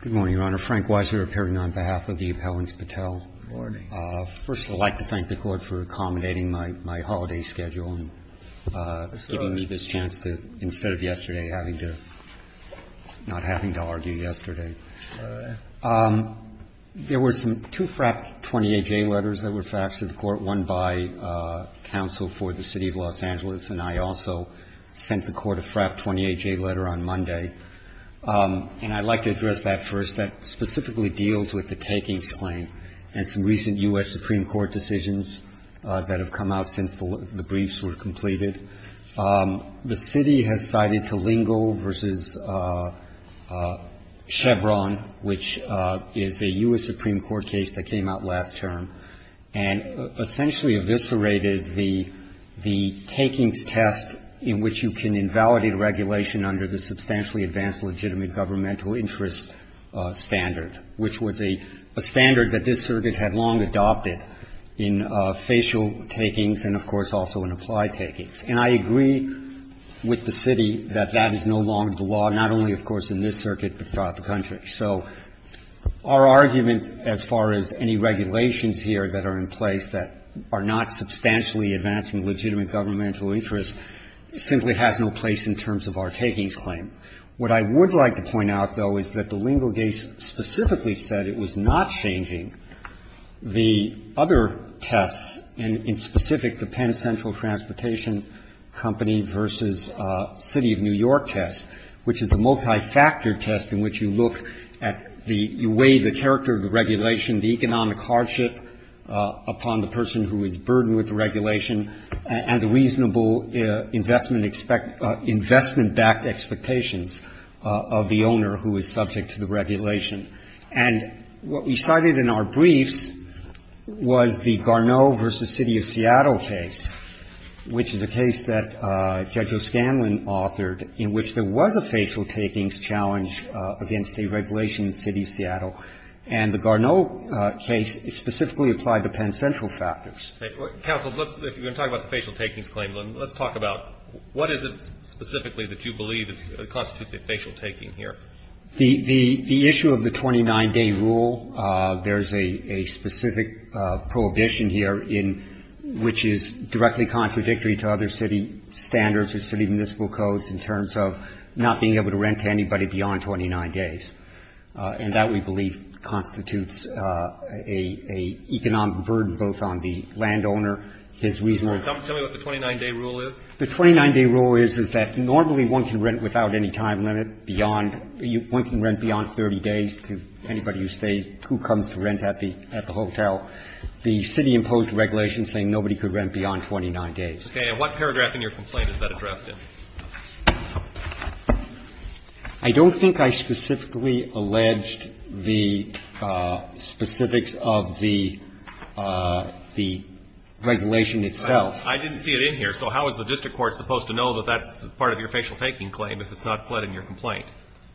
Good morning, Your Honor. Frank Weiser appearing on behalf of the Appellants Patel. Good morning. First, I'd like to thank the Court for accommodating my holiday schedule and giving me this chance to, instead of yesterday, having to, not having to argue yesterday. All right. There were some, two FRAP 28-J letters that were faxed to the Court, one by counsel for the City of Los Angeles, and I also sent the Court a FRAP 28-J letter on Monday. And I'd like to address that first. That specifically deals with the takings claim and some recent U.S. Supreme Court decisions that have come out since the briefs were completed. The City has cited Kalingel v. Chevron, which is a U.S. Supreme Court case that came out last term, and essentially eviscerated the takings test in which you can invalidate a regulation under the substantially advanced legitimate governmental interest standard, which was a standard that this circuit had long adopted in facial takings and, of course, also in applied takings. And I agree with the City that that is no longer the law, not only, of course, in this circuit, but throughout the country. So our argument as far as any regulations here that are in place that are not substantially advanced in legitimate governmental interest simply has no place in terms of our takings claim. What I would like to point out, though, is that the Lingle case specifically said it was not changing the other tests, and in specific, the Penn Central Transportation Company v. City of New York test, which is a multifactored test in which you look at the way the character of the regulation, the economic hardship upon the person who is burdened with the regulation, and the reasonable investment-backed expectations of the owner who is subject to the regulation. And what we cited in our briefs was the Garneau v. City of Seattle case, which is a case that Judge O'Scanlan authored in which there was a facial takings challenge against a regulation in the City of Seattle. And the Garneau case specifically applied the Penn Central factors. Roberts. Counsel, if you're going to talk about the facial takings claim, let's talk about what is it specifically that you believe constitutes a facial taking here? Verrilli, Jr. The issue of the 29-day rule, there's a specific prohibition here in which is directly contradictory to other city standards or city municipal codes in terms of not being able to rent to anybody beyond 29 days. And that, we believe, constitutes a economic burden both on the landowner, his reasonable- Tell me what the 29-day rule is. The 29-day rule is, is that normally one can rent without any time limit beyond one can rent beyond 30 days to anybody who stays, who comes to rent at the hotel. The city imposed regulations saying nobody could rent beyond 29 days. And what paragraph in your complaint is that addressed in? Verrilli, Jr. I don't think I specifically alleged the specifics of the regulation itself. I didn't see it in here. So how is the district court supposed to know that that's part of your facial taking claim if it's not pled in your complaint?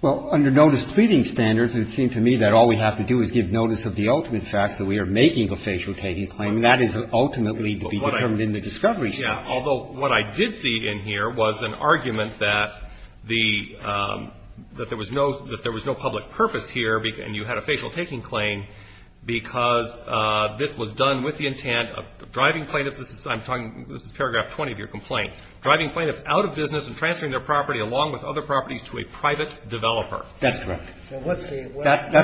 Well, under notice pleading standards, it would seem to me that all we have to do is give notice of the ultimate facts that we are making a facial taking claim. And that is ultimately to be determined in the discovery section. Although what I did see in here was an argument that the, that there was no, that there was no public purpose here and you had a facial taking claim because this was done with the intent of driving plaintiffs. This is, I'm talking, this is paragraph 20 of your complaint. Driving plaintiffs out of business and transferring their property along with other properties to a private developer. That's correct. That's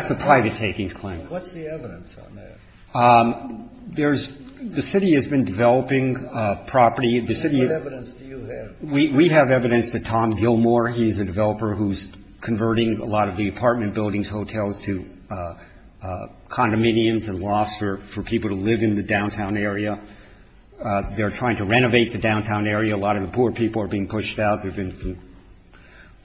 the private takings claim. What's the evidence on that? There's, the city has been developing property. What evidence do you have? We have evidence that Tom Gilmore, he's a developer who's converting a lot of the apartment buildings, hotels to condominiums and lofts for people to live in the downtown area. They're trying to renovate the downtown area. A lot of the poor people are being pushed out. There have been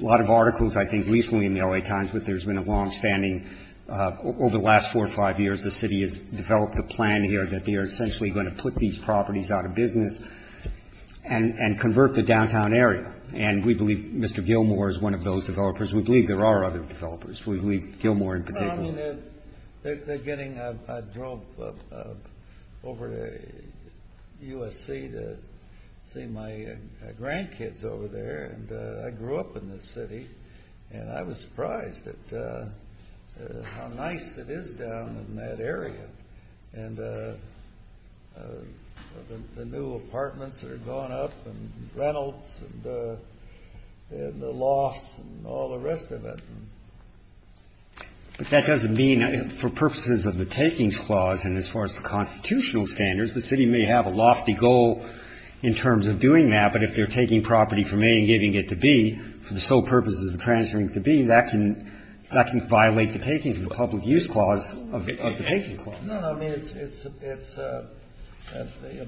a lot of articles, I think, recently in the L.A. Times that there's been a longstanding, over the last four or five years, the city has developed a plan here that they are essentially going to put these properties out of business and convert the downtown area. And we believe Mr. Gilmore is one of those developers. We believe there are other developers. We believe Gilmore in particular. Well, I mean, they're getting a drop over to USC to see my grandkids over there. And I grew up in this city, and I was surprised at how nice it is down in that area. And the new apartments are going up and Reynolds and the lofts and all the rest of it. But that doesn't mean, for purposes of the takings clause and as far as the constitutional standards, the city may have a lofty goal in terms of doing that. But if they're taking property from A and giving it to B for the sole purpose of transferring it to B, that can violate the takings of the public use clause of the takings clause. No, no. I mean, it's a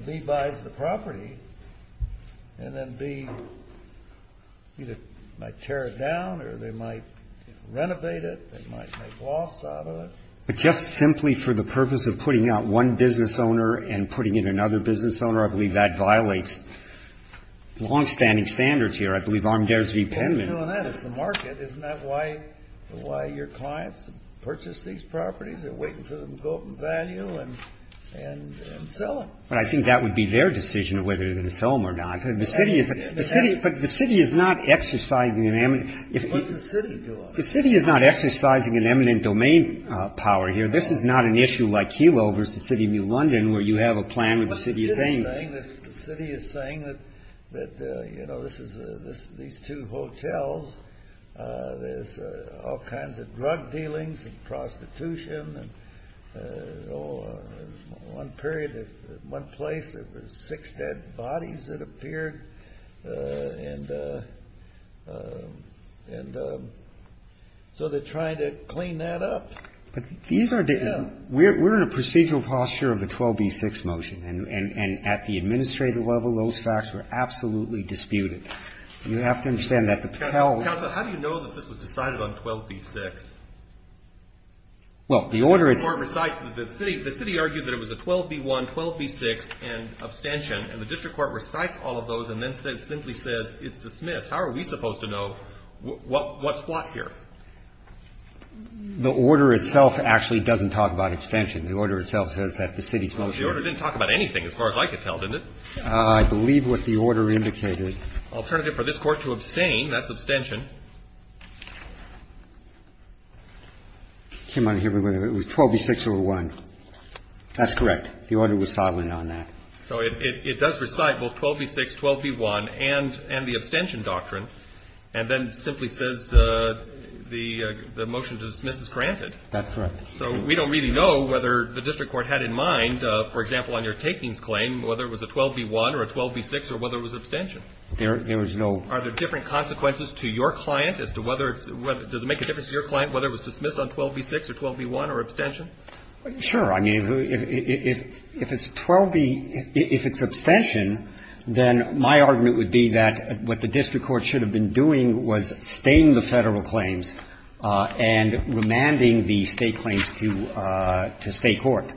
B buys the property, and then B either might tear it down or they might renovate it. They might make lofts out of it. But just simply for the purpose of putting out one business owner and putting in another business owner, I believe that violates longstanding standards here. I believe armadares v. Penman. Kennedy. Well, if they're doing that, it's the market. Isn't that why your clients purchase these properties? They're waiting for them to go up in value and sell them. But I think that would be their decision of whether they're going to sell them or not. The city is not exercising an eminent. What's the city doing? The city is not exercising an eminent domain power here. This is not an issue like Kelo versus the City of New London where you have a plan What's the city saying? The city is saying that, you know, these two hotels, there's all kinds of drug dealings and prostitution. And, you know, one period, one place, there were six dead bodies that appeared. And so they're trying to clean that up. But these are the we're in a procedural posture of the 12b-6 motion. And at the administrative level, those facts were absolutely disputed. You have to understand that the Pell Counsel, how do you know that this was decided on 12b-6? Well, the order is The district court recites that the city argued that it was a 12b-1, 12b-6 and abstention. And the district court recites all of those and then simply says it's dismissed. How are we supposed to know what's blocked here? The order itself actually doesn't talk about abstention. The order itself says that the city's motion The order didn't talk about anything as far as I could tell, did it? I believe what the order indicated Alternative for this Court to abstain, that's abstention. It was 12b-6 over 1. That's correct. The order was silent on that. So it does recite both 12b-6, 12b-1 and the abstention doctrine. And then simply says the motion to dismiss is granted. That's correct. So we don't really know whether the district court had in mind, for example, on your takings claim, whether it was a 12b-1 or a 12b-6 or whether it was abstention. There was no Are there different consequences to your client as to whether it's does it make a difference to your client whether it was dismissed on 12b-6 or 12b-1 or abstention? Sure. I mean, if it's 12b, if it's abstention, then my argument would be that what the district court should have been doing was staying the Federal claims and remanding the State claims to State court.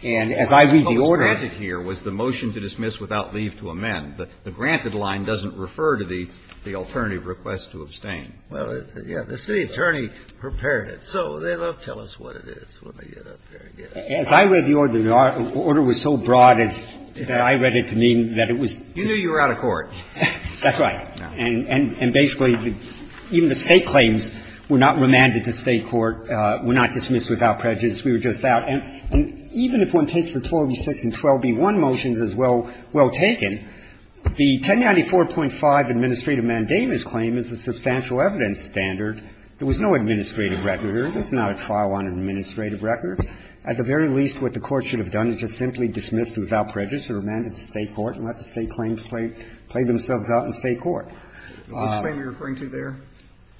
And as I read the order What was granted here was the motion to dismiss without leave to amend. The granted line doesn't refer to the alternative request to abstain. Well, yes. The city attorney prepared it. So they don't tell us what it is. Let me get up there again. As I read the order, the order was so broad that I read it to mean that it was You knew you were out of court. That's right. And basically, even the State claims were not remanded to State court, were not dismissed without prejudice. We were just out. And even if one takes the 12b-6 and 12b-1 motions as well taken, the 1094.5 administrative mandamus claim is a substantial evidence standard. There was no administrative record. It's not a trial on administrative records. At the very least, what the court should have done is just simply dismissed without prejudice or remanded to State court and let the State claims play themselves out in State court. Which claim are you referring to there?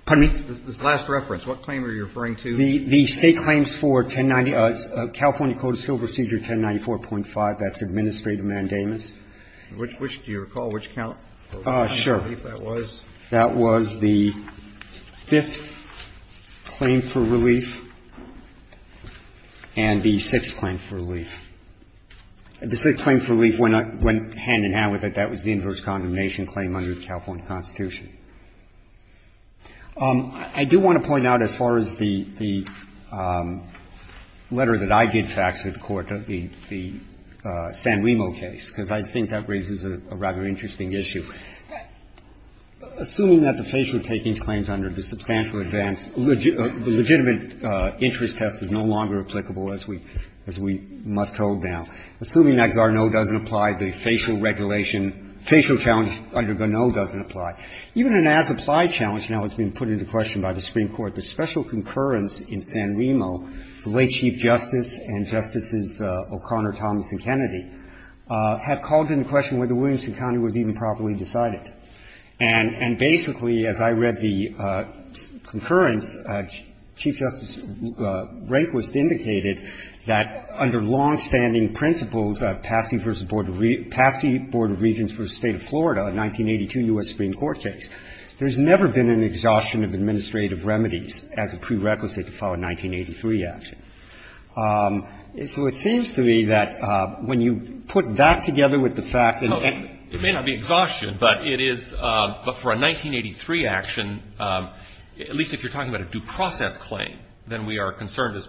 Pardon me? This last reference. What claim are you referring to? The State claims for 1090, California Code of Civil Procedure 1094.5, that's administrative mandamus. Which do you recall? Which count? Sure. That was? That was the fifth claim for relief and the sixth claim for relief. The sixth claim for relief went hand-in-hand with it. That was the inverse condemnation claim under the California Constitution. I do want to point out as far as the letter that I did fax to the court, the San Remo case, because I think that raises a rather interesting issue. Assuming that the facial takings claims under the substantial advance, the legitimate interest test is no longer applicable, as we must hold now. Assuming that Garneau doesn't apply, the facial regulation, facial challenge under Garneau doesn't apply. Even an as-applied challenge now has been put into question by the Supreme Court. The special concurrence in San Remo, the late Chief Justice and Justices O'Connor, Thomas and Kennedy, had called into question whether Williamson County was even properly decided. And basically, as I read the concurrence, Chief Justice Rehnquist indicated that under longstanding principles of Patsy v. Board of Regents v. State of Florida, a 1982 U.S. Supreme Court case, there's never been an exhaustion of administrative remedies as a prerequisite to file a 1983 action. So it seems to me that when you put that together with the fact that any of these claims are subject to a procedure of due process, it is, but for a 1983 action, at least if you're talking about a due process claim, then we are concerned as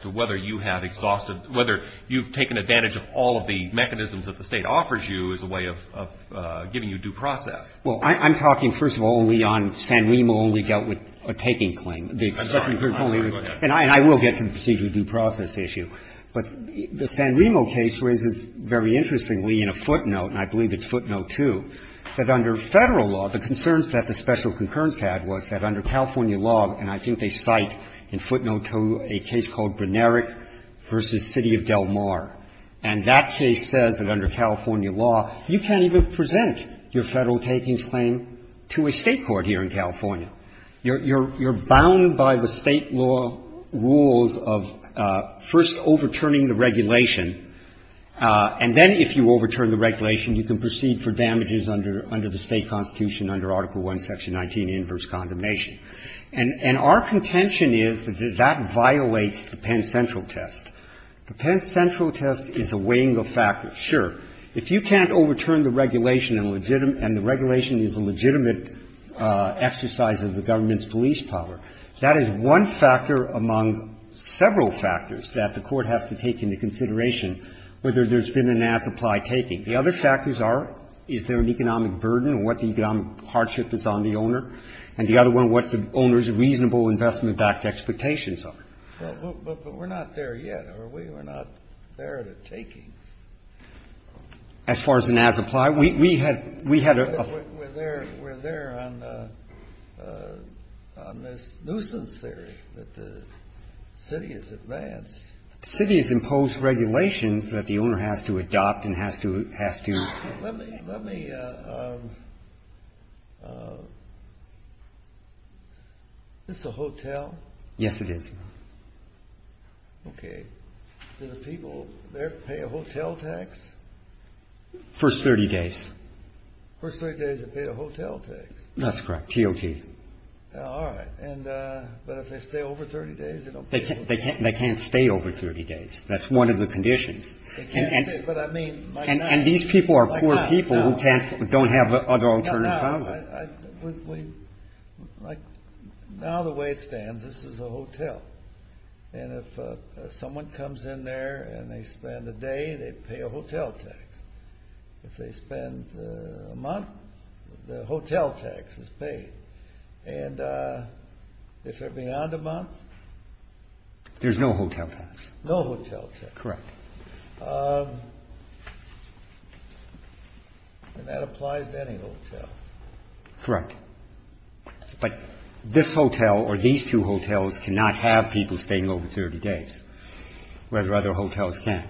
to whether you have exhausted, whether you've taken advantage of all of the mechanisms that the State offers you as a way of giving you due process. Well, I'm talking, first of all, only on San Remo only dealt with a taking claim. And I will get to the procedure of due process issue. But the San Remo case raises, very interestingly, in a footnote, and I believe it's footnote 2, that under Federal law, the concerns that the special concurrence had was that under California law, and I think they cite in footnote 2 a case called Brnerich v. City of Del Mar, and that case says that under California law, you can't even present your Federal takings claim to a State court here in California. You're bound by the State law rules of first overturning the regulation, and then if you overturn the regulation, you can proceed for damages under the State constitution under Article I, Section 19, inverse condemnation. And our contention is that that violates the Penn Central test. The Penn Central test is a weighing of factors. Sure, if you can't overturn the regulation and the regulation is a legitimate exercise of the government's police power, that is one factor among several factors that the Court has to take into consideration whether there's been an as-applied taking. The other factors are, is there an economic burden or what the economic hardship is on the owner, and the other one, what the owner's reasonable investment-backed expectations are. Kennedy, but we're not there yet, are we? We're not there at a taking. As far as an as-applied, we had we had a We're there, we're there on this nuisance theory that the city has advanced. The city has imposed regulations that the owner has to adopt and has to, has to Let me, let me, is this a hotel? Yes, it is. Okay. Do the people there pay a hotel tax? First 30 days. First 30 days, they pay a hotel tax. That's correct, TOT. All right, and, but if they stay over 30 days, they don't pay a hotel tax. They can't stay over 30 days. That's one of the conditions. They can't stay, but I mean, might not. And these people are poor people who can't, don't have other alternative housing. Now, the way it stands, this is a hotel. And if someone comes in there and they spend a day, they pay a hotel tax. If they spend a month, the hotel tax is paid. And if they're beyond a month? There's no hotel tax. No hotel tax. Correct. And that applies to any hotel. Correct. But this hotel or these two hotels cannot have people staying over 30 days, whether other hotels can.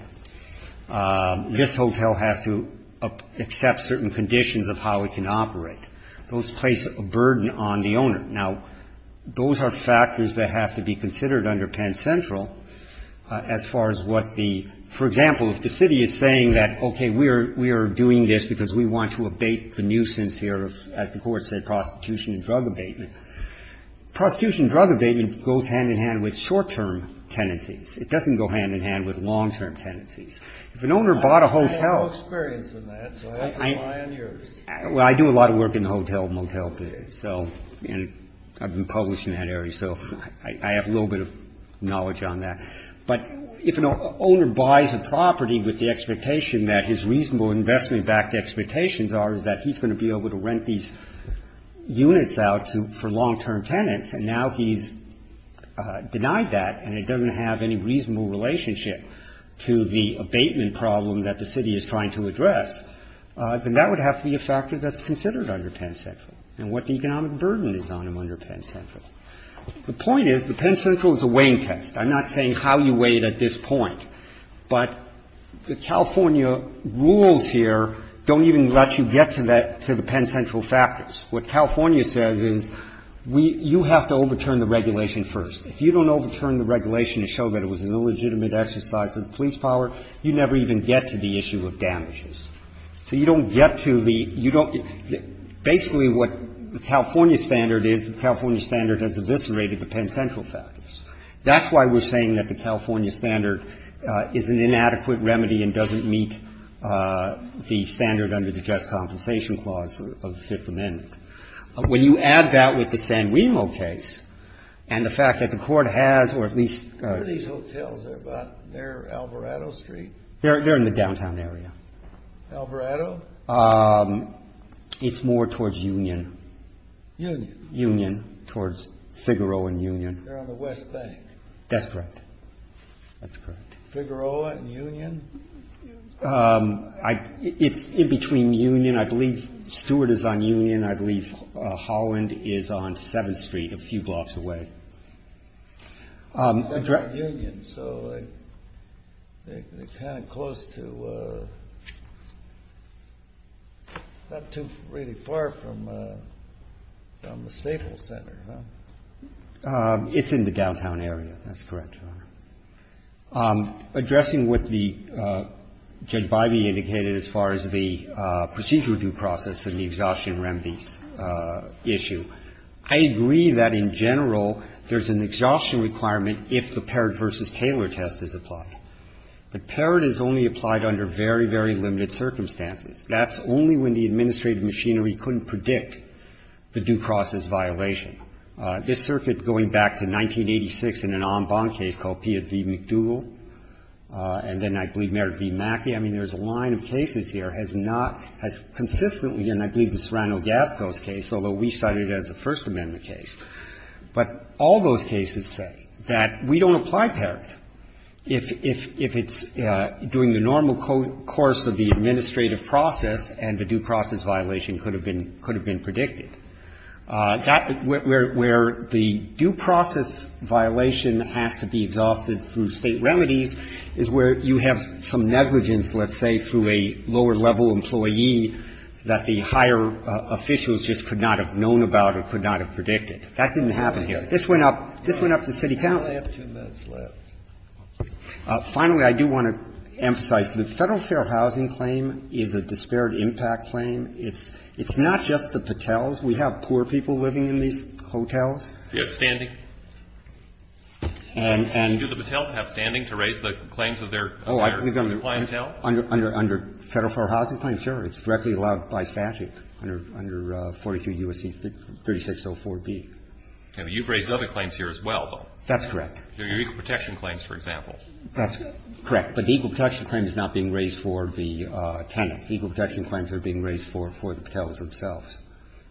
This hotel has to accept certain conditions of how it can operate. Those place a burden on the owner. Now, those are factors that have to be considered under Penn Central as far as what the, for example, if the city is saying that, okay, we are doing this because we want to abate the nuisance here of, as the Court said, prostitution and drug abatement. Prostitution and drug abatement goes hand in hand with short-term tenancies. It doesn't go hand in hand with long-term tenancies. If an owner bought a hotel. I have no experience in that, so I have to rely on yours. Well, I do a lot of work in the hotel and motel business, and I've been published in that area, so I have a little bit of knowledge on that. But if an owner buys a property with the expectation that his reasonable investment backed expectations are is that he's going to be able to rent these units out for long-term tenants, and now he's denied that, and it doesn't have any reasonable relationship to the abatement problem that the city is trying to address, then that would have to be a factor that's considered under Penn Central and what the economic burden is on them under Penn Central. The point is, the Penn Central is a weighing test. I'm not saying how you weigh it at this point. But the California rules here don't even let you get to the Penn Central factors. What California says is you have to overturn the regulation first. If you don't overturn the regulation to show that it was an illegitimate exercise of the police power, you never even get to the issue of damages. So you don't get to the you don't basically what the California standard is. The California standard has eviscerated the Penn Central factors. That's why we're saying that the California standard is an inadequate remedy and doesn't meet the standard under the Just Compensation Clause of the Fifth Amendment. When you add that with the San Remo case and the fact that the court has or at least What are these hotels, they're near Alvarado Street? They're in the downtown area. Alvarado? It's more towards Union. Union? Union, towards Figueroa and Union. They're on the West Bank. That's correct. That's correct. Figueroa and Union? It's in between Union. I believe Stewart is on Union. I believe Holland is on 7th Street a few blocks away. They're in Union, so they're kind of close to, not too really far from the Staples Center. It's in the downtown area. That's correct, Your Honor. Addressing what Judge Bivey indicated as far as the procedural due process and the exhaustion remedies issue, I agree that in general there's an exhaustion requirement if the Parrott v. Taylor test is applied. But Parrott is only applied under very, very limited circumstances. That's only when the administrative machinery couldn't predict the due process violation. This circuit going back to 1986 in an en banc case called Pia v. McDougall, and then I believe Meredith v. Mackey. I mean, there's a line of cases here has not, has consistently, and I believe the Serrano-Gasco case, although we cited it as a First Amendment case. But all those cases say that we don't apply Parrott if it's during the normal course of the administrative process and the due process violation could have been predicted. That, where the due process violation has to be exhausted through state remedies is where you have some negligence, let's say, through a lower level employee that the higher officials just could not have known about or could not have predicted. That didn't happen here. This went up, this went up to city council. I only have two minutes left. Finally, I do want to emphasize the Federal Fair Housing Claim is a disparate impact claim. It's not just the Patels. We have poor people living in these hotels. And do the Patels have standing to raise the claims of their clientele? Under Federal Fair Housing Claim, sure. It's directly allowed by statute under 42 U.S.C. 3604B. You've raised other claims here as well, though. That's correct. Your equal protection claims, for example. That's correct. But the equal protection claim is not being raised for the tenants. The equal protection claims are being raised for the Patels themselves.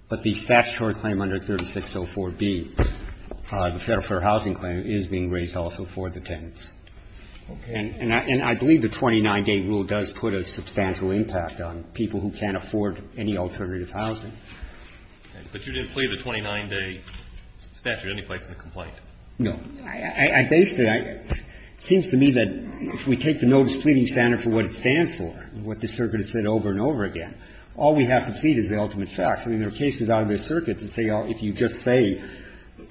But the statutory claim under 3604B, the Federal Fair Housing Claim, is being raised also for the tenants. And I believe the 29-day rule does put a substantial impact on people who can't afford any alternative housing. But you didn't plead the 29-day statute any place in the complaint? No. I based it.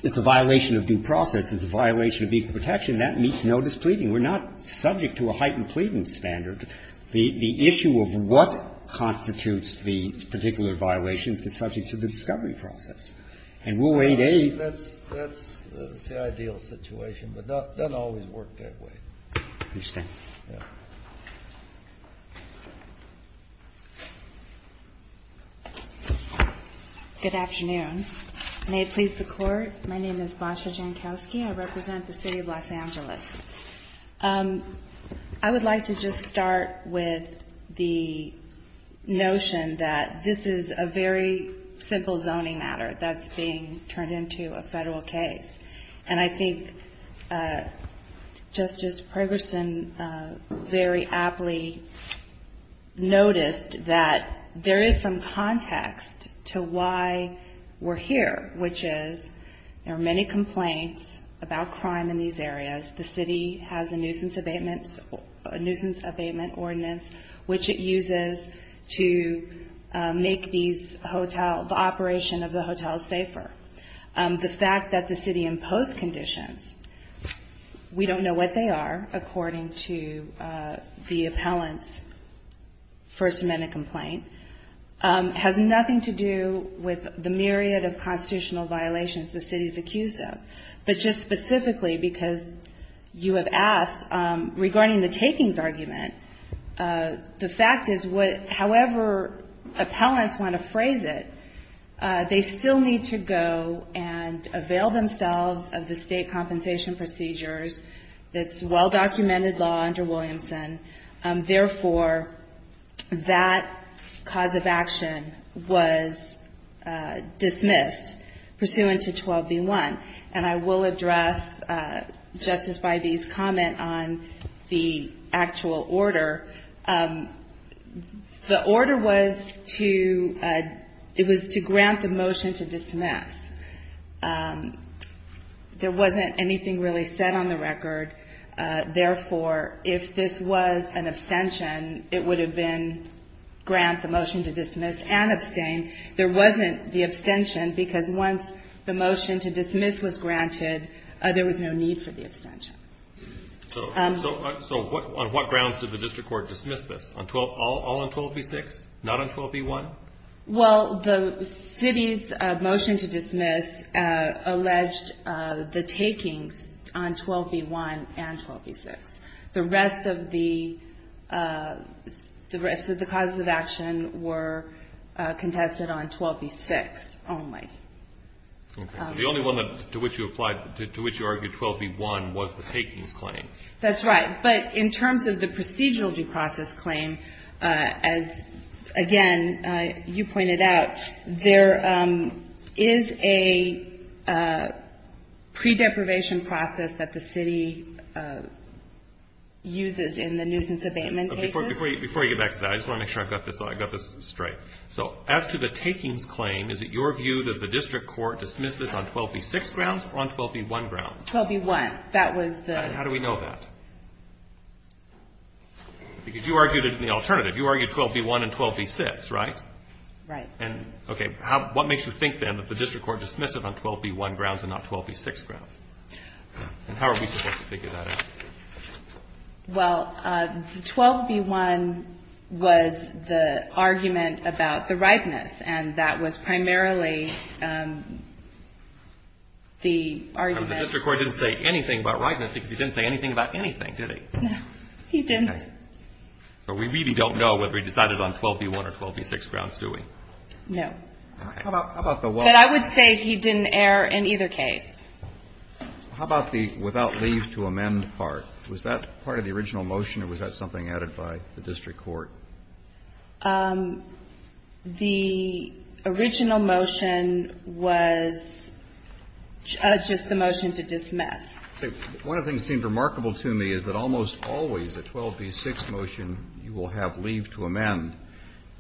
It's a violation of due process, it's a violation of equal protection, and it's no displeasing. We're not subject to a heightened pleading standard. The issue of what constitutes the particular violations is subject to the discovery process. And we'll wait a year. That's the ideal situation, but it doesn't always work that way. I understand. Good afternoon. May it please the Court. My name is Basha Jankowski. I represent the City of Los Angeles. I would like to just start with the notion that this is a very simple zoning matter that's being turned into a Federal case. And I think Justice Progerson very aptly noticed that there is some context to why we're here, which is there are many complaints about crime in these areas. The City has a nuisance abatement ordinance, which it uses to make the operation of the hotels safer. The fact that the City imposed conditions, we don't know what they are according to the appellant's First Amendment complaint, has nothing to do with the myriad of constitutional violations the City is accused of. But just specifically, because you have asked regarding the takings argument, the fact is however appellants want to phrase it, they still need to go and avail themselves of the state compensation procedures, that's well-documented law under Williamson. Therefore, that cause of action was dismissed pursuant to 12B1. And I will address Justice Bybee's comment on the actual order. The order was to grant the motion to dismiss. There wasn't anything really said on the record, therefore, if this was an abstention, it would have been grant the motion to dismiss and abstain. There wasn't the abstention because once the motion to dismiss was granted, there was no need for the abstention. So on what grounds did the District Court dismiss this? All on 12B6, not on 12B1? Well, the City's motion to dismiss alleged the takings on 12B1 and 12B6. The rest of the causes of action were contested on 12B6 only. The only one to which you argued 12B1 was the takings claim. That's right. But in terms of the procedural due process claim, as again, you pointed out, there is a pre-deprivation process that the City uses in the nuisance abatement cases. Before you get back to that, I just want to make sure I've got this straight. So as to the takings claim, is it your view that the District Court dismissed this on 12B6 grounds or on 12B1 grounds? 12B1, that was the... And how do we know that? Because you argued it in the alternative. You argued 12B1 and 12B6, right? Right. 12B1 grounds and not 12B6 grounds. And how are we supposed to figure that out? Well, the 12B1 was the argument about the ripeness. And that was primarily the argument... The District Court didn't say anything about ripeness because he didn't say anything about anything, did he? He didn't. So we really don't know whether he decided on 12B1 or 12B6 grounds, do we? No. How about the one... But I would say he didn't err in either case. How about the without leave to amend part? Was that part of the original motion or was that something added by the District Court? The original motion was just the motion to dismiss. One of the things that seemed remarkable to me is that almost always a 12B6 motion you will have leave to amend.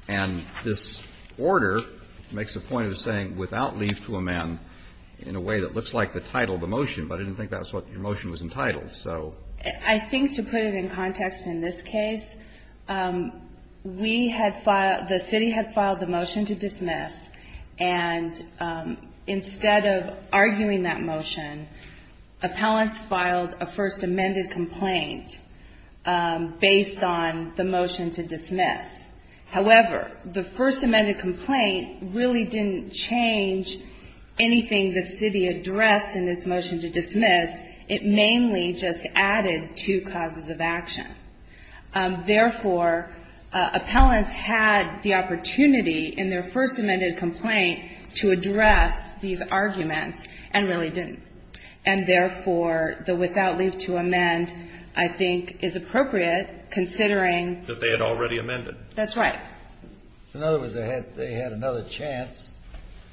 And this order makes a point of saying without leave to amend in a way that looks like the title of the motion, but I didn't think that's what your motion was entitled. So... I think to put it in context in this case, we had filed, the city had filed the motion to dismiss, and instead of arguing that motion, appellants filed a first amended complaint based on the motion to dismiss. However, the first amended complaint really didn't change anything the city addressed in its motion to dismiss. It mainly just added two causes of action. Therefore, appellants had the opportunity in their first amended complaint to address these arguments and really didn't. And therefore, the without leave to amend, I think is appropriate considering... That they had already amended. That's right. In other words, they had another chance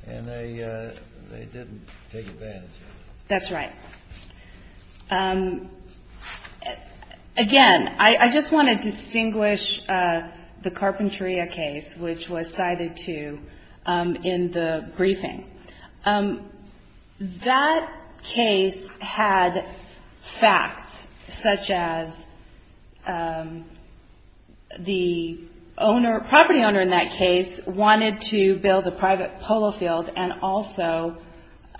and they didn't take advantage of it. That's right. Again, I just want to distinguish the Carpentria case, which was cited too in the briefing. That case had facts such as the owner, property owner in that case, wanted to build a private polo field and also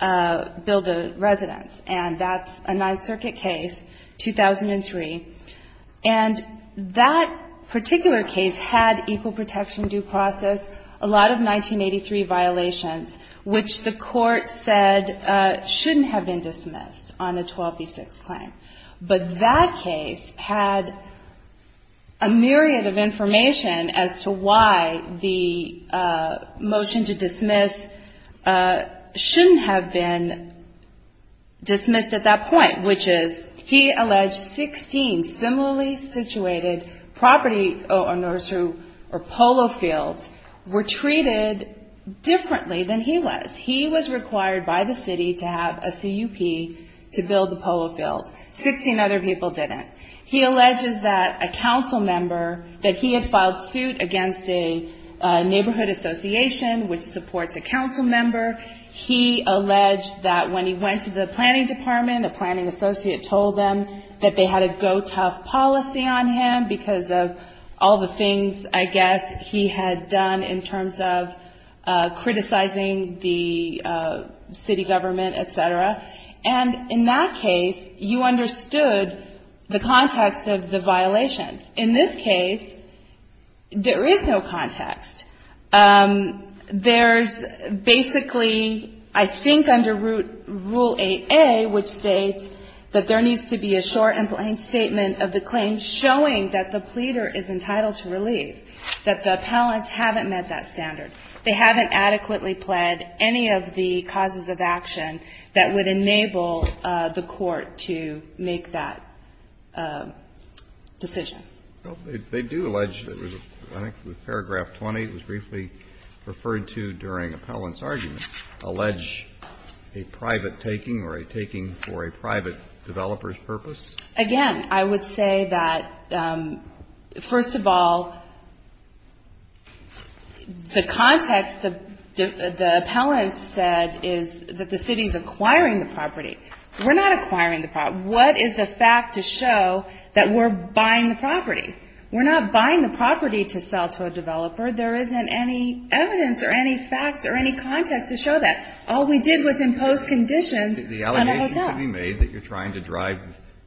build a residence. And that's a Ninth Circuit case, 2003. And that particular case had equal protection due process, a lot of 1983 violations, which the court said shouldn't have been dismissed on a 12B6 claim. But that case had a myriad of information as to why the motion to dismiss shouldn't have been dismissed at that point, which is he alleged 16 similarly situated property or nursery or polo fields were treated differently than he was. He was required by the city to have a CUP to build the polo field. 16 other people didn't. He alleges that a council member, that he had filed suit against a neighborhood association, which supports a council member. He alleged that when he went to the planning department, a planning associate told them that they had a go-tough policy on him because of all the things, I guess, he had done in terms of criticizing the city government, et cetera. And in that case, you understood the context of the violations. In this case, there is no context. There's basically, I think, under Rule 8A, which states that there needs to be a short and plain statement of the claim showing that the pleader is entitled to relieve, that the appellants haven't met that standard. They haven't adequately pled any of the causes of action that would enable the court to make that decision. Well, they do allege, I think, with paragraph 20, it was briefly referred to during appellant's argument, allege a private taking or a taking for a private developer's purpose. Again, I would say that, first of all, the context, the appellant said is that the city is acquiring the property. We're not acquiring the property. What is the fact to show that we're buying the property? We're not buying the property to sell to a developer. There isn't any evidence or any facts or any context to show that. All we did was impose conditions on our hotel. The allegations could be made that you're trying to drive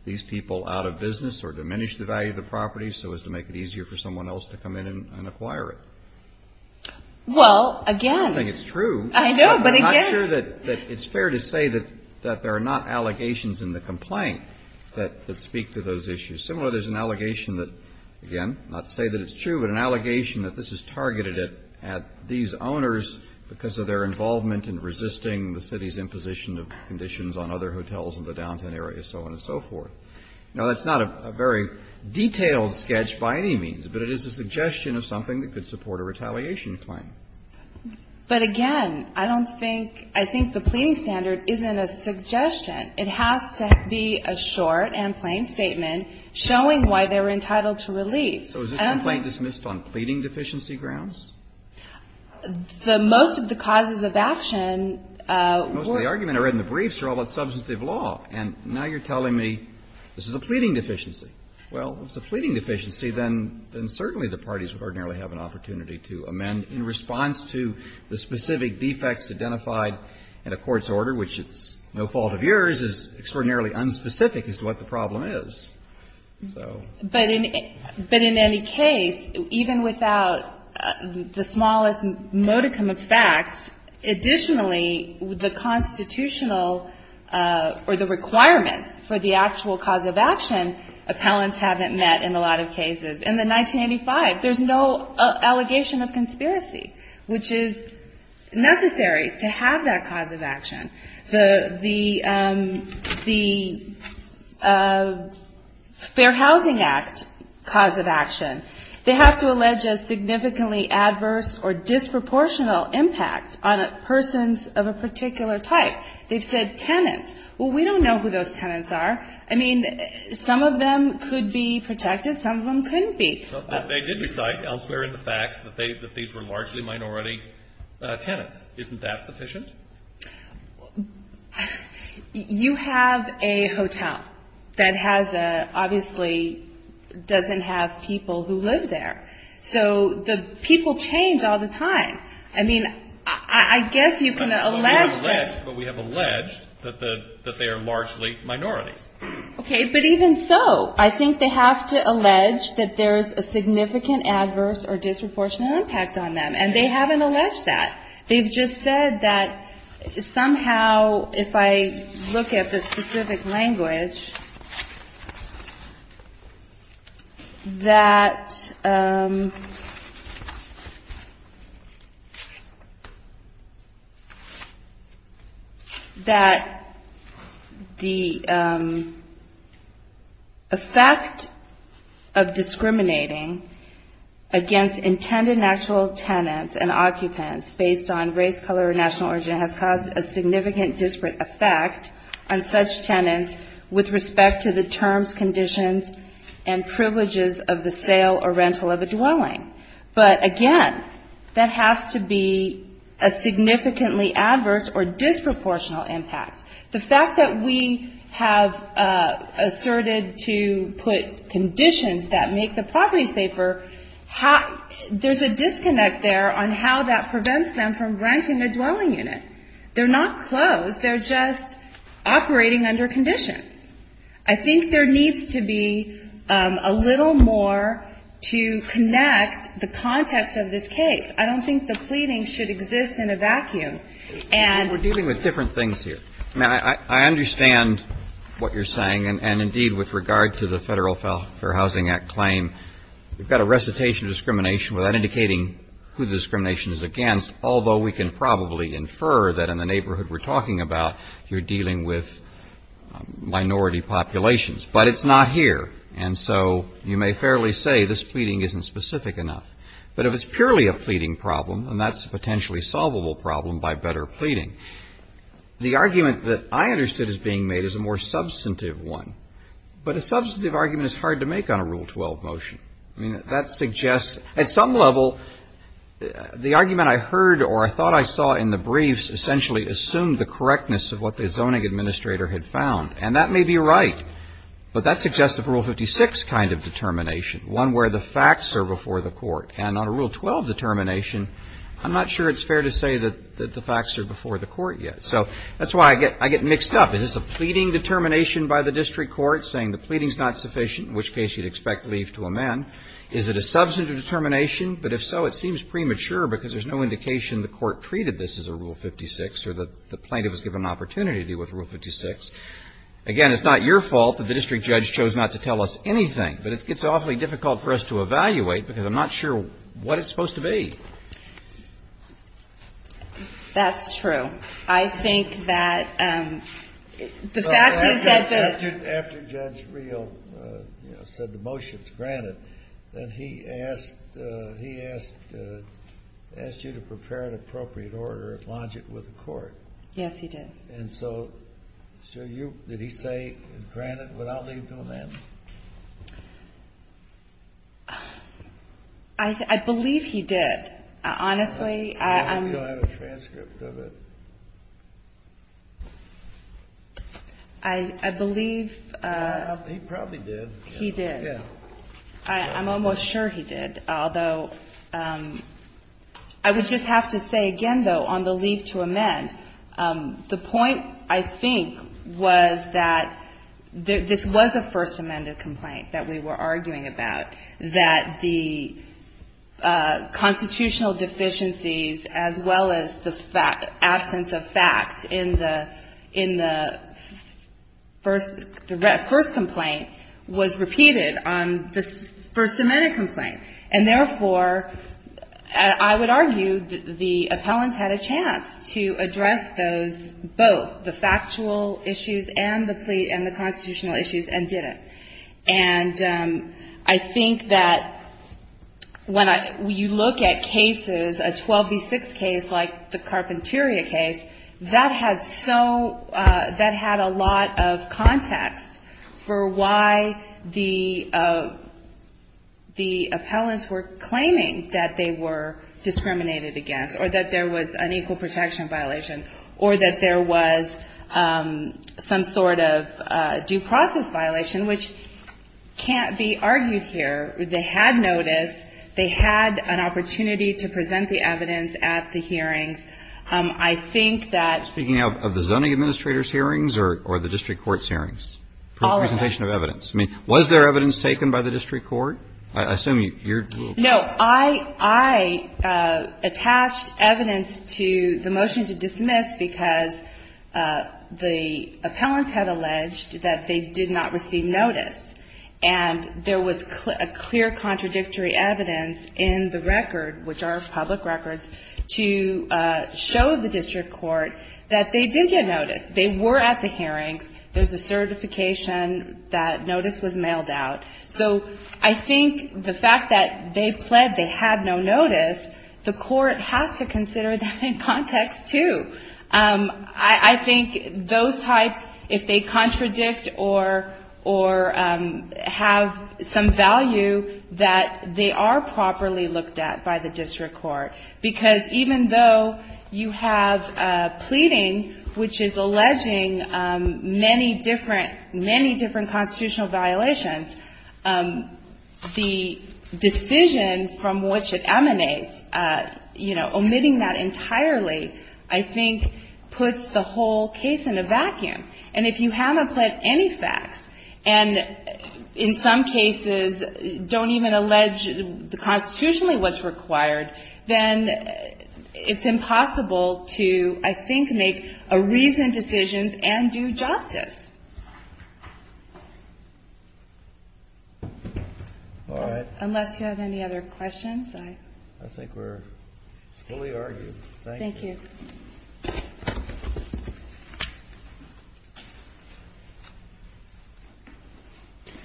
these people out of business or diminish the value of the property so as to make it easier for someone else to come in and acquire it. Well, again. I don't think it's true. I know, but again. I'm not sure that it's fair to say that there are not allegations in the complaint that speak to those issues. Similarly, there's an allegation that, again, not to say that it's true, but an allegation that this is targeted at these owners because of their involvement in resisting the city's imposition of conditions on other hotels in the downtown area, so on and so forth. Now, that's not a very detailed sketch by any means, but it is a suggestion of something that could support a retaliation claim. But, again, I don't think the pleading standard isn't a suggestion. It has to be a short and plain statement showing why they were entitled to relief. So is this complaint dismissed on pleading deficiency grounds? The most of the causes of action were. Most of the argument I read in the briefs are all about substantive law. And now you're telling me this is a pleading deficiency. Well, if it's a pleading deficiency, then certainly the parties ordinarily have an opportunity to amend in response to the specific defects identified in a court's order, which it's no fault of yours, is extraordinarily unspecific as to what the problem is. So. But in any case, even without the smallest modicum of facts, additionally, the constitutional or the requirements for the actual cause of action, appellants haven't met in a lot of cases. In the 1985, there's no allegation of conspiracy, which is necessary to have that cause of action. The Fair Housing Act cause of action, they have to allege a significantly adverse or disproportional impact on persons of a particular type. They've said tenants. Well, we don't know who those tenants are. I mean, some of them could be protected. Some of them couldn't be. They did recite elsewhere in the facts that they, that these were largely minority tenants. Isn't that sufficient? You have a hotel that has a, obviously doesn't have people who live there. So the people change all the time. I mean, I guess you can allege. But we have alleged that the, that they are largely minorities. Okay. But even so, I think they have to allege that there's a significant adverse or disproportionate impact on them. And they haven't alleged that they've just said that somehow, if I look at the specific language that, that the effect of discriminating against intended natural tenants and occupants based on race, color, or national origin has caused a significant disparate effect on such tenants with respect to the terms, conditions, and privileges of the sale or rental of a dwelling. But again, that has to be a significantly adverse or disproportional impact. The fact that we have asserted to put conditions that make the property safer, how there's a disconnect there on how that prevents them from granting the dwelling unit. They're not closed. They're just operating under conditions. I think there needs to be a little more to connect the context of this case. I don't think the pleading should exist in a vacuum. And we're dealing with different things here. Now, I understand what you're saying. And indeed, with regard to the Federal Fair Housing Act claim, we've got a recitation discrimination without indicating who the discrimination is against. Although we can probably infer that in the neighborhood we're talking about, you're dealing with minority populations. But it's not here. And so you may fairly say this pleading isn't specific enough. But if it's purely a pleading problem, and that's a potentially solvable problem by better pleading, the argument that I understood as being made is a more substantive one. But a substantive argument is hard to make on a Rule 12 motion. I mean, that suggests at some level the argument I heard or I thought I saw in the briefs essentially assumed the correctness of what the zoning administrator had found. And that may be right. But that suggests a Rule 56 kind of determination, one where the facts are before the court. And on a Rule 12 determination, I'm not sure it's fair to say that the facts are before the court yet. So that's why I get I get mixed up. Is this a pleading determination by the district court saying the pleading is not Is it a substantive determination? But if so, it seems premature because there's no indication the court treated this as a Rule 56 or that the plaintiff was given an opportunity to deal with Rule 56. Again, it's not your fault that the district judge chose not to tell us anything, but it gets awfully difficult for us to evaluate because I'm not sure what it's supposed to be. That's true. I think that the fact is that after Judge Reel said the motion's granted, that he asked, he asked, asked you to prepare an appropriate order and launch it with the court. Yes, he did. And so, so you, did he say granted without leave to amend? I believe he did, honestly. I hope you'll have a transcript of it. I believe. He probably did. He did. Yeah. I'm almost sure he did, although I would just have to say again, though, on the leave to amend, the point I think was that this was a first amended complaint that we were arguing about, that the constitutional deficiencies, as well as the absence of facts in the, in the first, the first complaint was repeated on the first amended complaint. And therefore, I would argue that the appellants had a chance to address those, both the factual issues and the plea and the constitutional issues and did it. And I think that when you look at cases, a 12B6 case like the Carpinteria case, that had so, that had a lot of context for why the, the appellants were claiming that they were discriminated against or that there was an equal protection violation or that there was some sort of a due process violation, which can't be argued here. They had noticed, they had an opportunity to present the evidence at the hearings. I think that. Speaking of the zoning administrator's hearings or, or the district court's hearings, presentation of evidence. I mean, was there evidence taken by the district court? I assume you're. No, I, I attached evidence to the motion to dismiss because the appellants had alleged that they did not receive notice and there was clear, a clear contradictory evidence in the record, which are public records to show the district court that they did get notice. They were at the hearings. There's a certification that notice was mailed out. So I think the fact that they pled, they had no notice, the court has to consider that in context too. I think those types, if they contradict or, or have some value that they are properly looked at by the district court, because even though you have a pleading, which is alleging many different, many different constitutional violations, the decision from which it emanates, you know, omitting that entirely, I think puts the whole case in a vacuum. And if you haven't pled any facts and in some cases don't even allege the constitutionally what's required, then it's impossible to, I think, make a reason decisions and do justice. All right. Unless you have any other questions. I, I think we're fully argued. Thank you.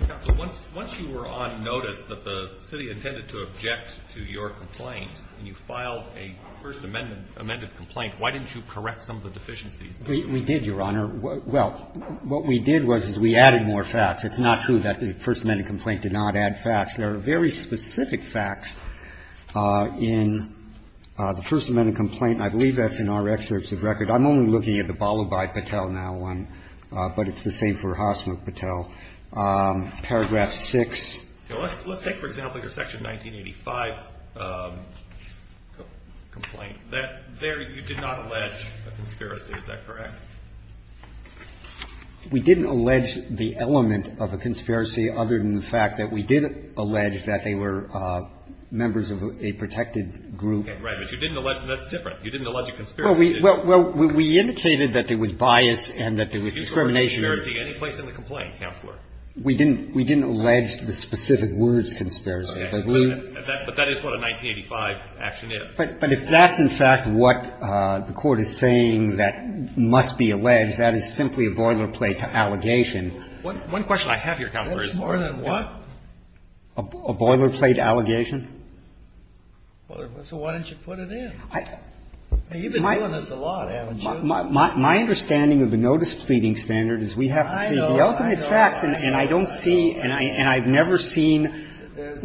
Counsel, once, once you were on notice that the city intended to object to your complaint and you filed a First Amendment amended complaint, why didn't you correct some of the deficiencies? We, we did, Your Honor. Well, what we did was, is we added more facts. It's not true that the First Amendment complaint did not add facts. There are very specific facts in the First Amendment complaint, and I believe that's in our excerpts of record. I'm only looking at the Balabai-Patel now one, but it's the same for Hasmukh-Patel. Paragraph 6. Let's, let's take, for example, your Section 1985 complaint. That there you did not allege a conspiracy, is that correct? We didn't allege the element of a conspiracy other than the fact that we did allege that they were members of a protected group. Okay. But you didn't allege, and that's different. You didn't allege a conspiracy. Well, we, well, well, we indicated that there was bias and that there was discrimination. Did you call it a conspiracy any place in the complaint, Counselor? We didn't, we didn't allege the specific words conspiracy. Okay. But that, but that is what a 1985 action is. But, but if that's in fact what the Court is saying that must be alleged, that is simply a boilerplate allegation. One, one question I have here, Counselor, is more than what? A boilerplate allegation. So why didn't you put it in? You've been doing this a lot, haven't you? My, my understanding of the notice pleading standard is we have to plead the ultimate I know, I know. And I don't see, and I, and I've never seen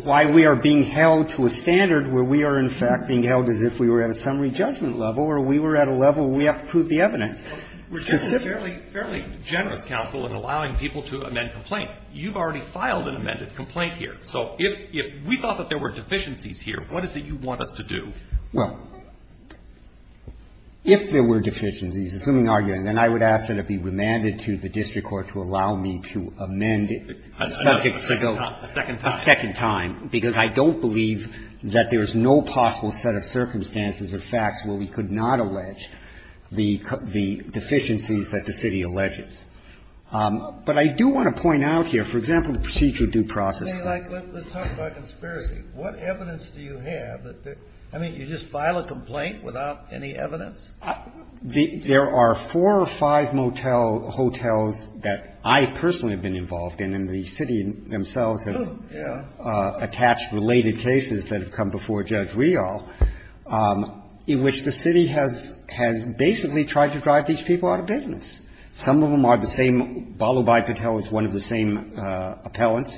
why we are being held to a standard where we are in fact being held as if we were at a summary judgment level or we were at a level where we have to prove the evidence specifically. We're just a fairly, fairly generous counsel in allowing people to amend complaints. You've already filed an amended complaint here. So if, if we thought that there were deficiencies here, what is it you want us to do? Well, if there were deficiencies, assuming argument, then I would ask that it be remanded to the district court to allow me to amend it subject to the bill a second time. A second time. Because I don't believe that there is no possible set of circumstances or facts where we could not allege the deficiencies that the city alleges. But I do want to point out here, for example, the procedure due process. Let's talk about conspiracy. What evidence do you have that, I mean, you just file a complaint without any evidence? There are four or five motel hotels that I personally have been involved in and the city themselves have attached related cases that have come before Judge Riall in which the city has, has basically tried to drive these people out of business. Some of them are the same. Balobai Patel is one of the same appellants,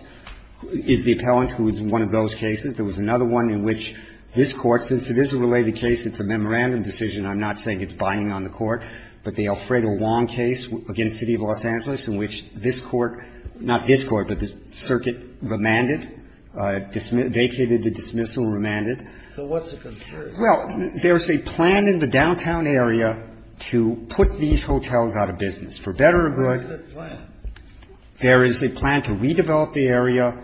is the appellant who is in one of those cases. There was another one in which this Court, since it is a related case, it's a memorandum decision, I'm not saying it's binding on the Court, but the Alfredo Wong case against the City of Los Angeles in which this Court, not this Court, but the circuit remanded, vacated the dismissal and remanded. So what's the conspiracy? Well, there's a plan in the downtown area to put these hotels out of business. For better or good. Where is that plan? There is a plan to redevelop the area,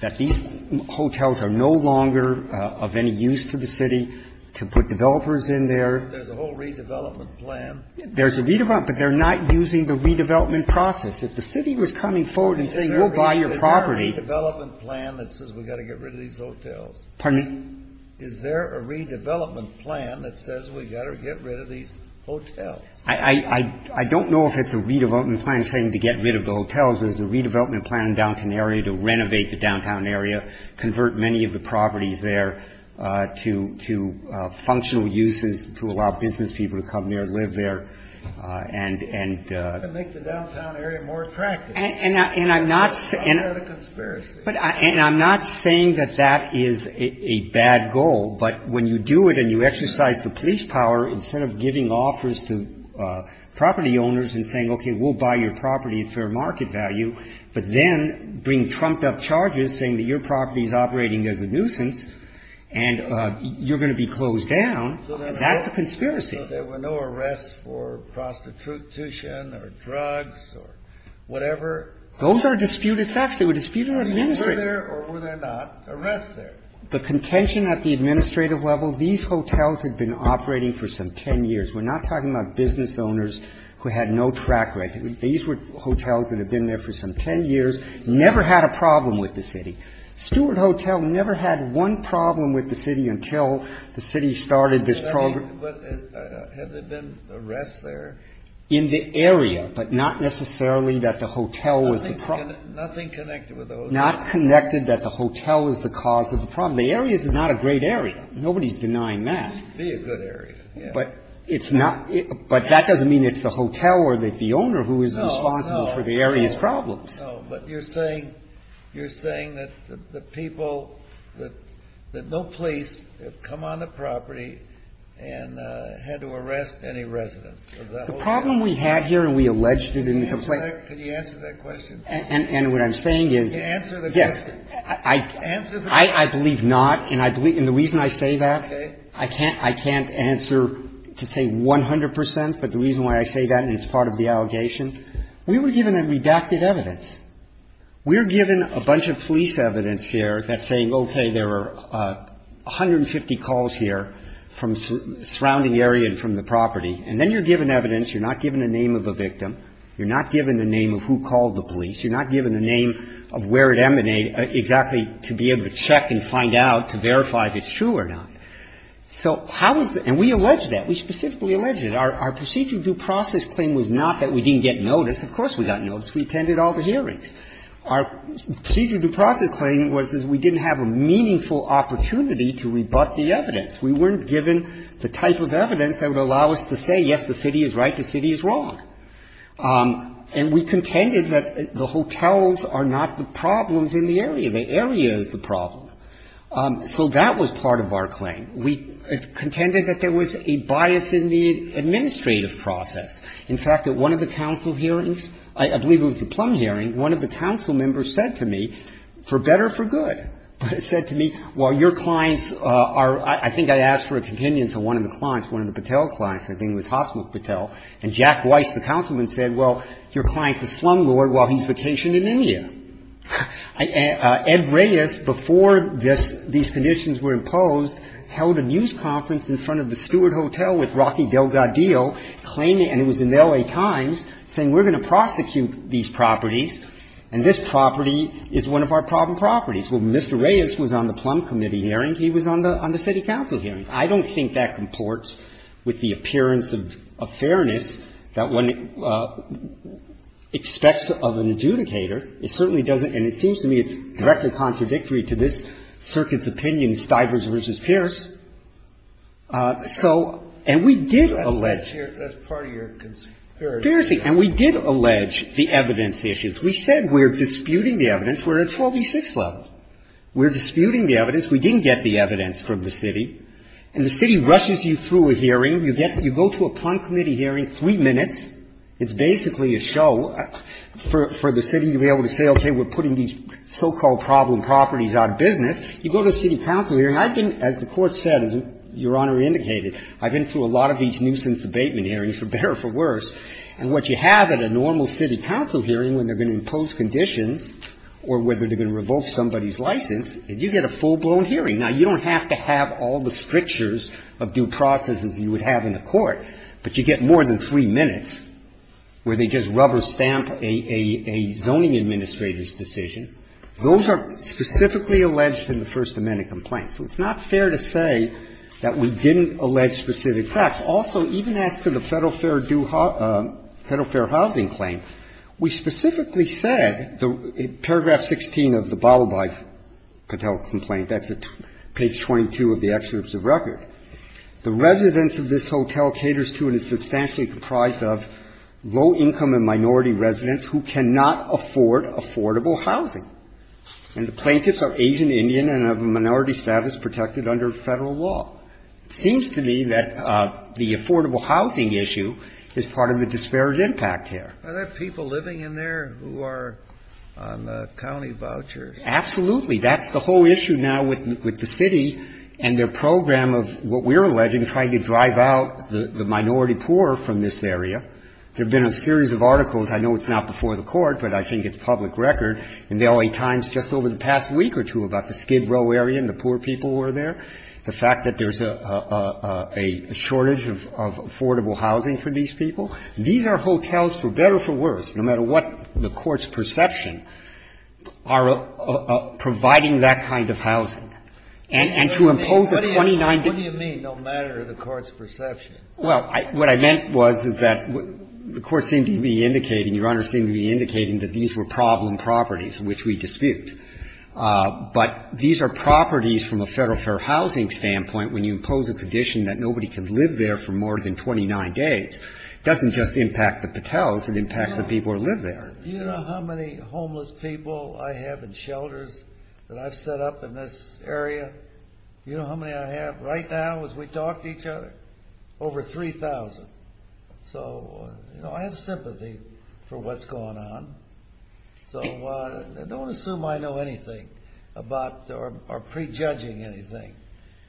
that these hotels are no longer of any use to the city, to put developers in there. There's a whole redevelopment plan. There's a redevelopment, but they're not using the redevelopment process. If the city was coming forward and saying, we'll buy your property. Is there a redevelopment plan that says we've got to get rid of these hotels? Pardon me? Is there a redevelopment plan that says we've got to get rid of these hotels? I don't know if it's a redevelopment plan saying to get rid of the hotels. There's a redevelopment plan in the downtown area to renovate the downtown area, convert many of the properties there to functional uses, to allow business people to come there, live there, and. To make the downtown area more attractive. And I'm not. It's not a conspiracy. And I'm not saying that that is a bad goal, but when you do it and you exercise the police power, instead of giving offers to property owners and saying, okay, we'll buy your property at fair market value, but then bring trumped-up charges saying that your property is operating as a nuisance and you're going to be closed down, that's a conspiracy. There were no arrests for prostitution or drugs or whatever. Those are disputed facts. They were disputed administrative. Were there or were there not arrests there? The contention at the administrative level, these hotels had been operating for some 10 years. We're not talking about business owners who had no track record. These were hotels that had been there for some 10 years, never had a problem with the city. Stewart Hotel never had one problem with the city until the city started this program. Had there been arrests there? In the area, but not necessarily that the hotel was the problem. Nothing connected with the hotel. Not connected that the hotel is the cause of the problem. The area is not a great area. Nobody's denying that. It would be a good area, yes. But it's not. But that doesn't mean it's the hotel or the owner who is responsible for the area's problems. No, no. But you're saying that the people, that no police have come on the property and had to arrest any residents of that hotel. The problem we had here, and we alleged it in the complaint. Can you answer that question? And what I'm saying is. Answer the question. Yes. Answer the question. I believe not. And the reason I say that. Okay. I can't answer to say 100 percent, but the reason why I say that and it's part of the allegation. We were given a redacted evidence. We were given a bunch of police evidence here that's saying, okay, there were 150 calls here from surrounding area and from the property. And then you're given evidence. You're not given the name of the victim. You're not given the name of who called the police. You're not given the name of where it emanated exactly to be able to check and find out to verify if it's true or not. So how is the – and we allege that. We specifically allege it. Our procedure due process claim was not that we didn't get notice. Of course we got notice. We attended all the hearings. Our procedure due process claim was that we didn't have a meaningful opportunity to rebut the evidence. We weren't given the type of evidence that would allow us to say, yes, the city is right, the city is wrong. And we contended that the hotels are not the problems in the area. The area is the problem. So that was part of our claim. We contended that there was a bias in the administrative process. In fact, at one of the council hearings, I believe it was the Plum hearing, one of the council members said to me, for better or for good, said to me, well, your clients are – I think I asked for a companion to one of the clients, one of the Patel clients, I think it was Hasmukh Patel, and Jack Weiss, the councilman, said, well, your client's a slumlord while he's vacationed in India. Ed Reyes, before this – these conditions were imposed, held a news conference in front of the Stewart Hotel with Rocky Delgadillo claiming – and it was in the L.A. Times – saying we're going to prosecute these properties and this property is one of our problem properties. Well, Mr. Reyes was on the Plum committee hearing. He was on the city council hearing. I don't think that comports with the appearance of fairness that one expects of an adjudicator. It certainly doesn't – and it seems to me it's directly contradictory to this circuit's opinion, Stivers v. Pierce. So – and we did allege – That's part of your conspiracy. Piercing. And we did allege the evidence issues. We said we're disputing the evidence. We're at a 26 level. We're disputing the evidence. We didn't get the evidence from the city. And the city rushes you through a hearing. You get – you go to a Plum committee hearing, three minutes. It's basically a show for the city to be able to say, okay, we're putting these so-called problem properties out of business. You go to a city council hearing. I've been – as the Court said, as Your Honor indicated, I've been through a lot of these nuisance abatement hearings, for better or for worse. And what you have at a normal city council hearing when they're going to impose conditions or whether they're going to revoke somebody's license is you get a full-blown hearing. Now, you don't have to have all the strictures of due process as you would have in a court, but you get more than three minutes where they just rubber stamp a zoning administrator's decision. Those are specifically alleged in the First Amendment complaint. So it's not fair to say that we didn't allege specific facts. Now, that's also even as to the Federal Fair due – Federal Fair housing claim. We specifically said, in paragraph 16 of the Bababai Patel complaint, that's at page 22 of the excerpts of record, the residents of this hotel caters to and is substantially comprised of low-income and minority residents who cannot afford affordable housing. And the plaintiffs are Asian Indian and have a minority status protected under Federal law. It seems to me that the affordable housing issue is part of the disparate impact here. Are there people living in there who are on the county vouchers? Absolutely. That's the whole issue now with the city and their program of what we're alleging, trying to drive out the minority poor from this area. There have been a series of articles. I know it's not before the court, but I think it's public record in the LA Times just over the past week or two about the Skid Row area and the poor people who are there. The fact that there's a shortage of affordable housing for these people, these are hotels for better or for worse, no matter what the court's perception, are providing that kind of housing. And to impose a 29-degree limit. Breyer, what do you mean, no matter the court's perception? Well, what I meant was, is that the court seemed to be indicating, Your Honor seemed to be indicating that these were problem properties which we dispute. But these are properties from a federal fair housing standpoint. When you impose a condition that nobody can live there for more than 29 days, it doesn't just impact the patels, it impacts the people who live there. Do you know how many homeless people I have in shelters that I've set up in this area? Do you know how many I have right now as we talk to each other? Over 3,000. So, you know, I have sympathy for what's going on. So, don't assume I know anything about, or pre-judging anything.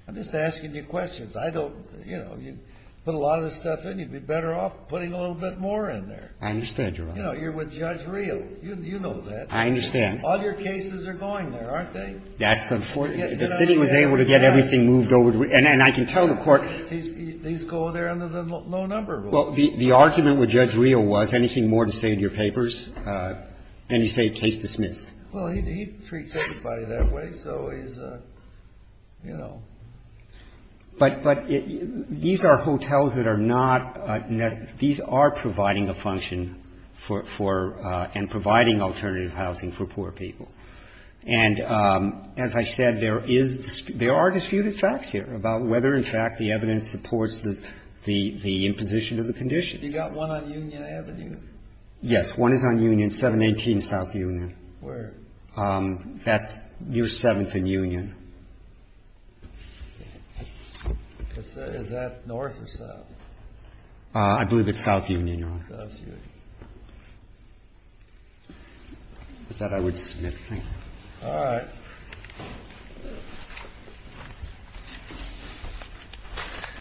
I'm just asking you questions. I don't, you know, you put a lot of this stuff in, you'd be better off putting a little bit more in there. I understand, Your Honor. You know, you're with Judge Rio. You know that. I understand. All your cases are going there, aren't they? That's the point. The city was able to get everything moved over to Rio. And I can tell the court. These go there under the low number rule. Well, the argument with Judge Rio was, anything more to say in your papers? And you say case dismissed. Well, he treats everybody that way, so he's, you know. But these are hotels that are not, these are providing a function for, and providing alternative housing for poor people. And as I said, there is, there are disputed facts here about whether, in fact, the evidence supports the imposition of the conditions. You got one on Union Avenue? Yes. One is on Union, 718 South Union. Where? That's, you're seventh in Union. Is that north or south? I believe it's South Union, Your Honor. South Union. With that, I would dismiss. Thank you. All right.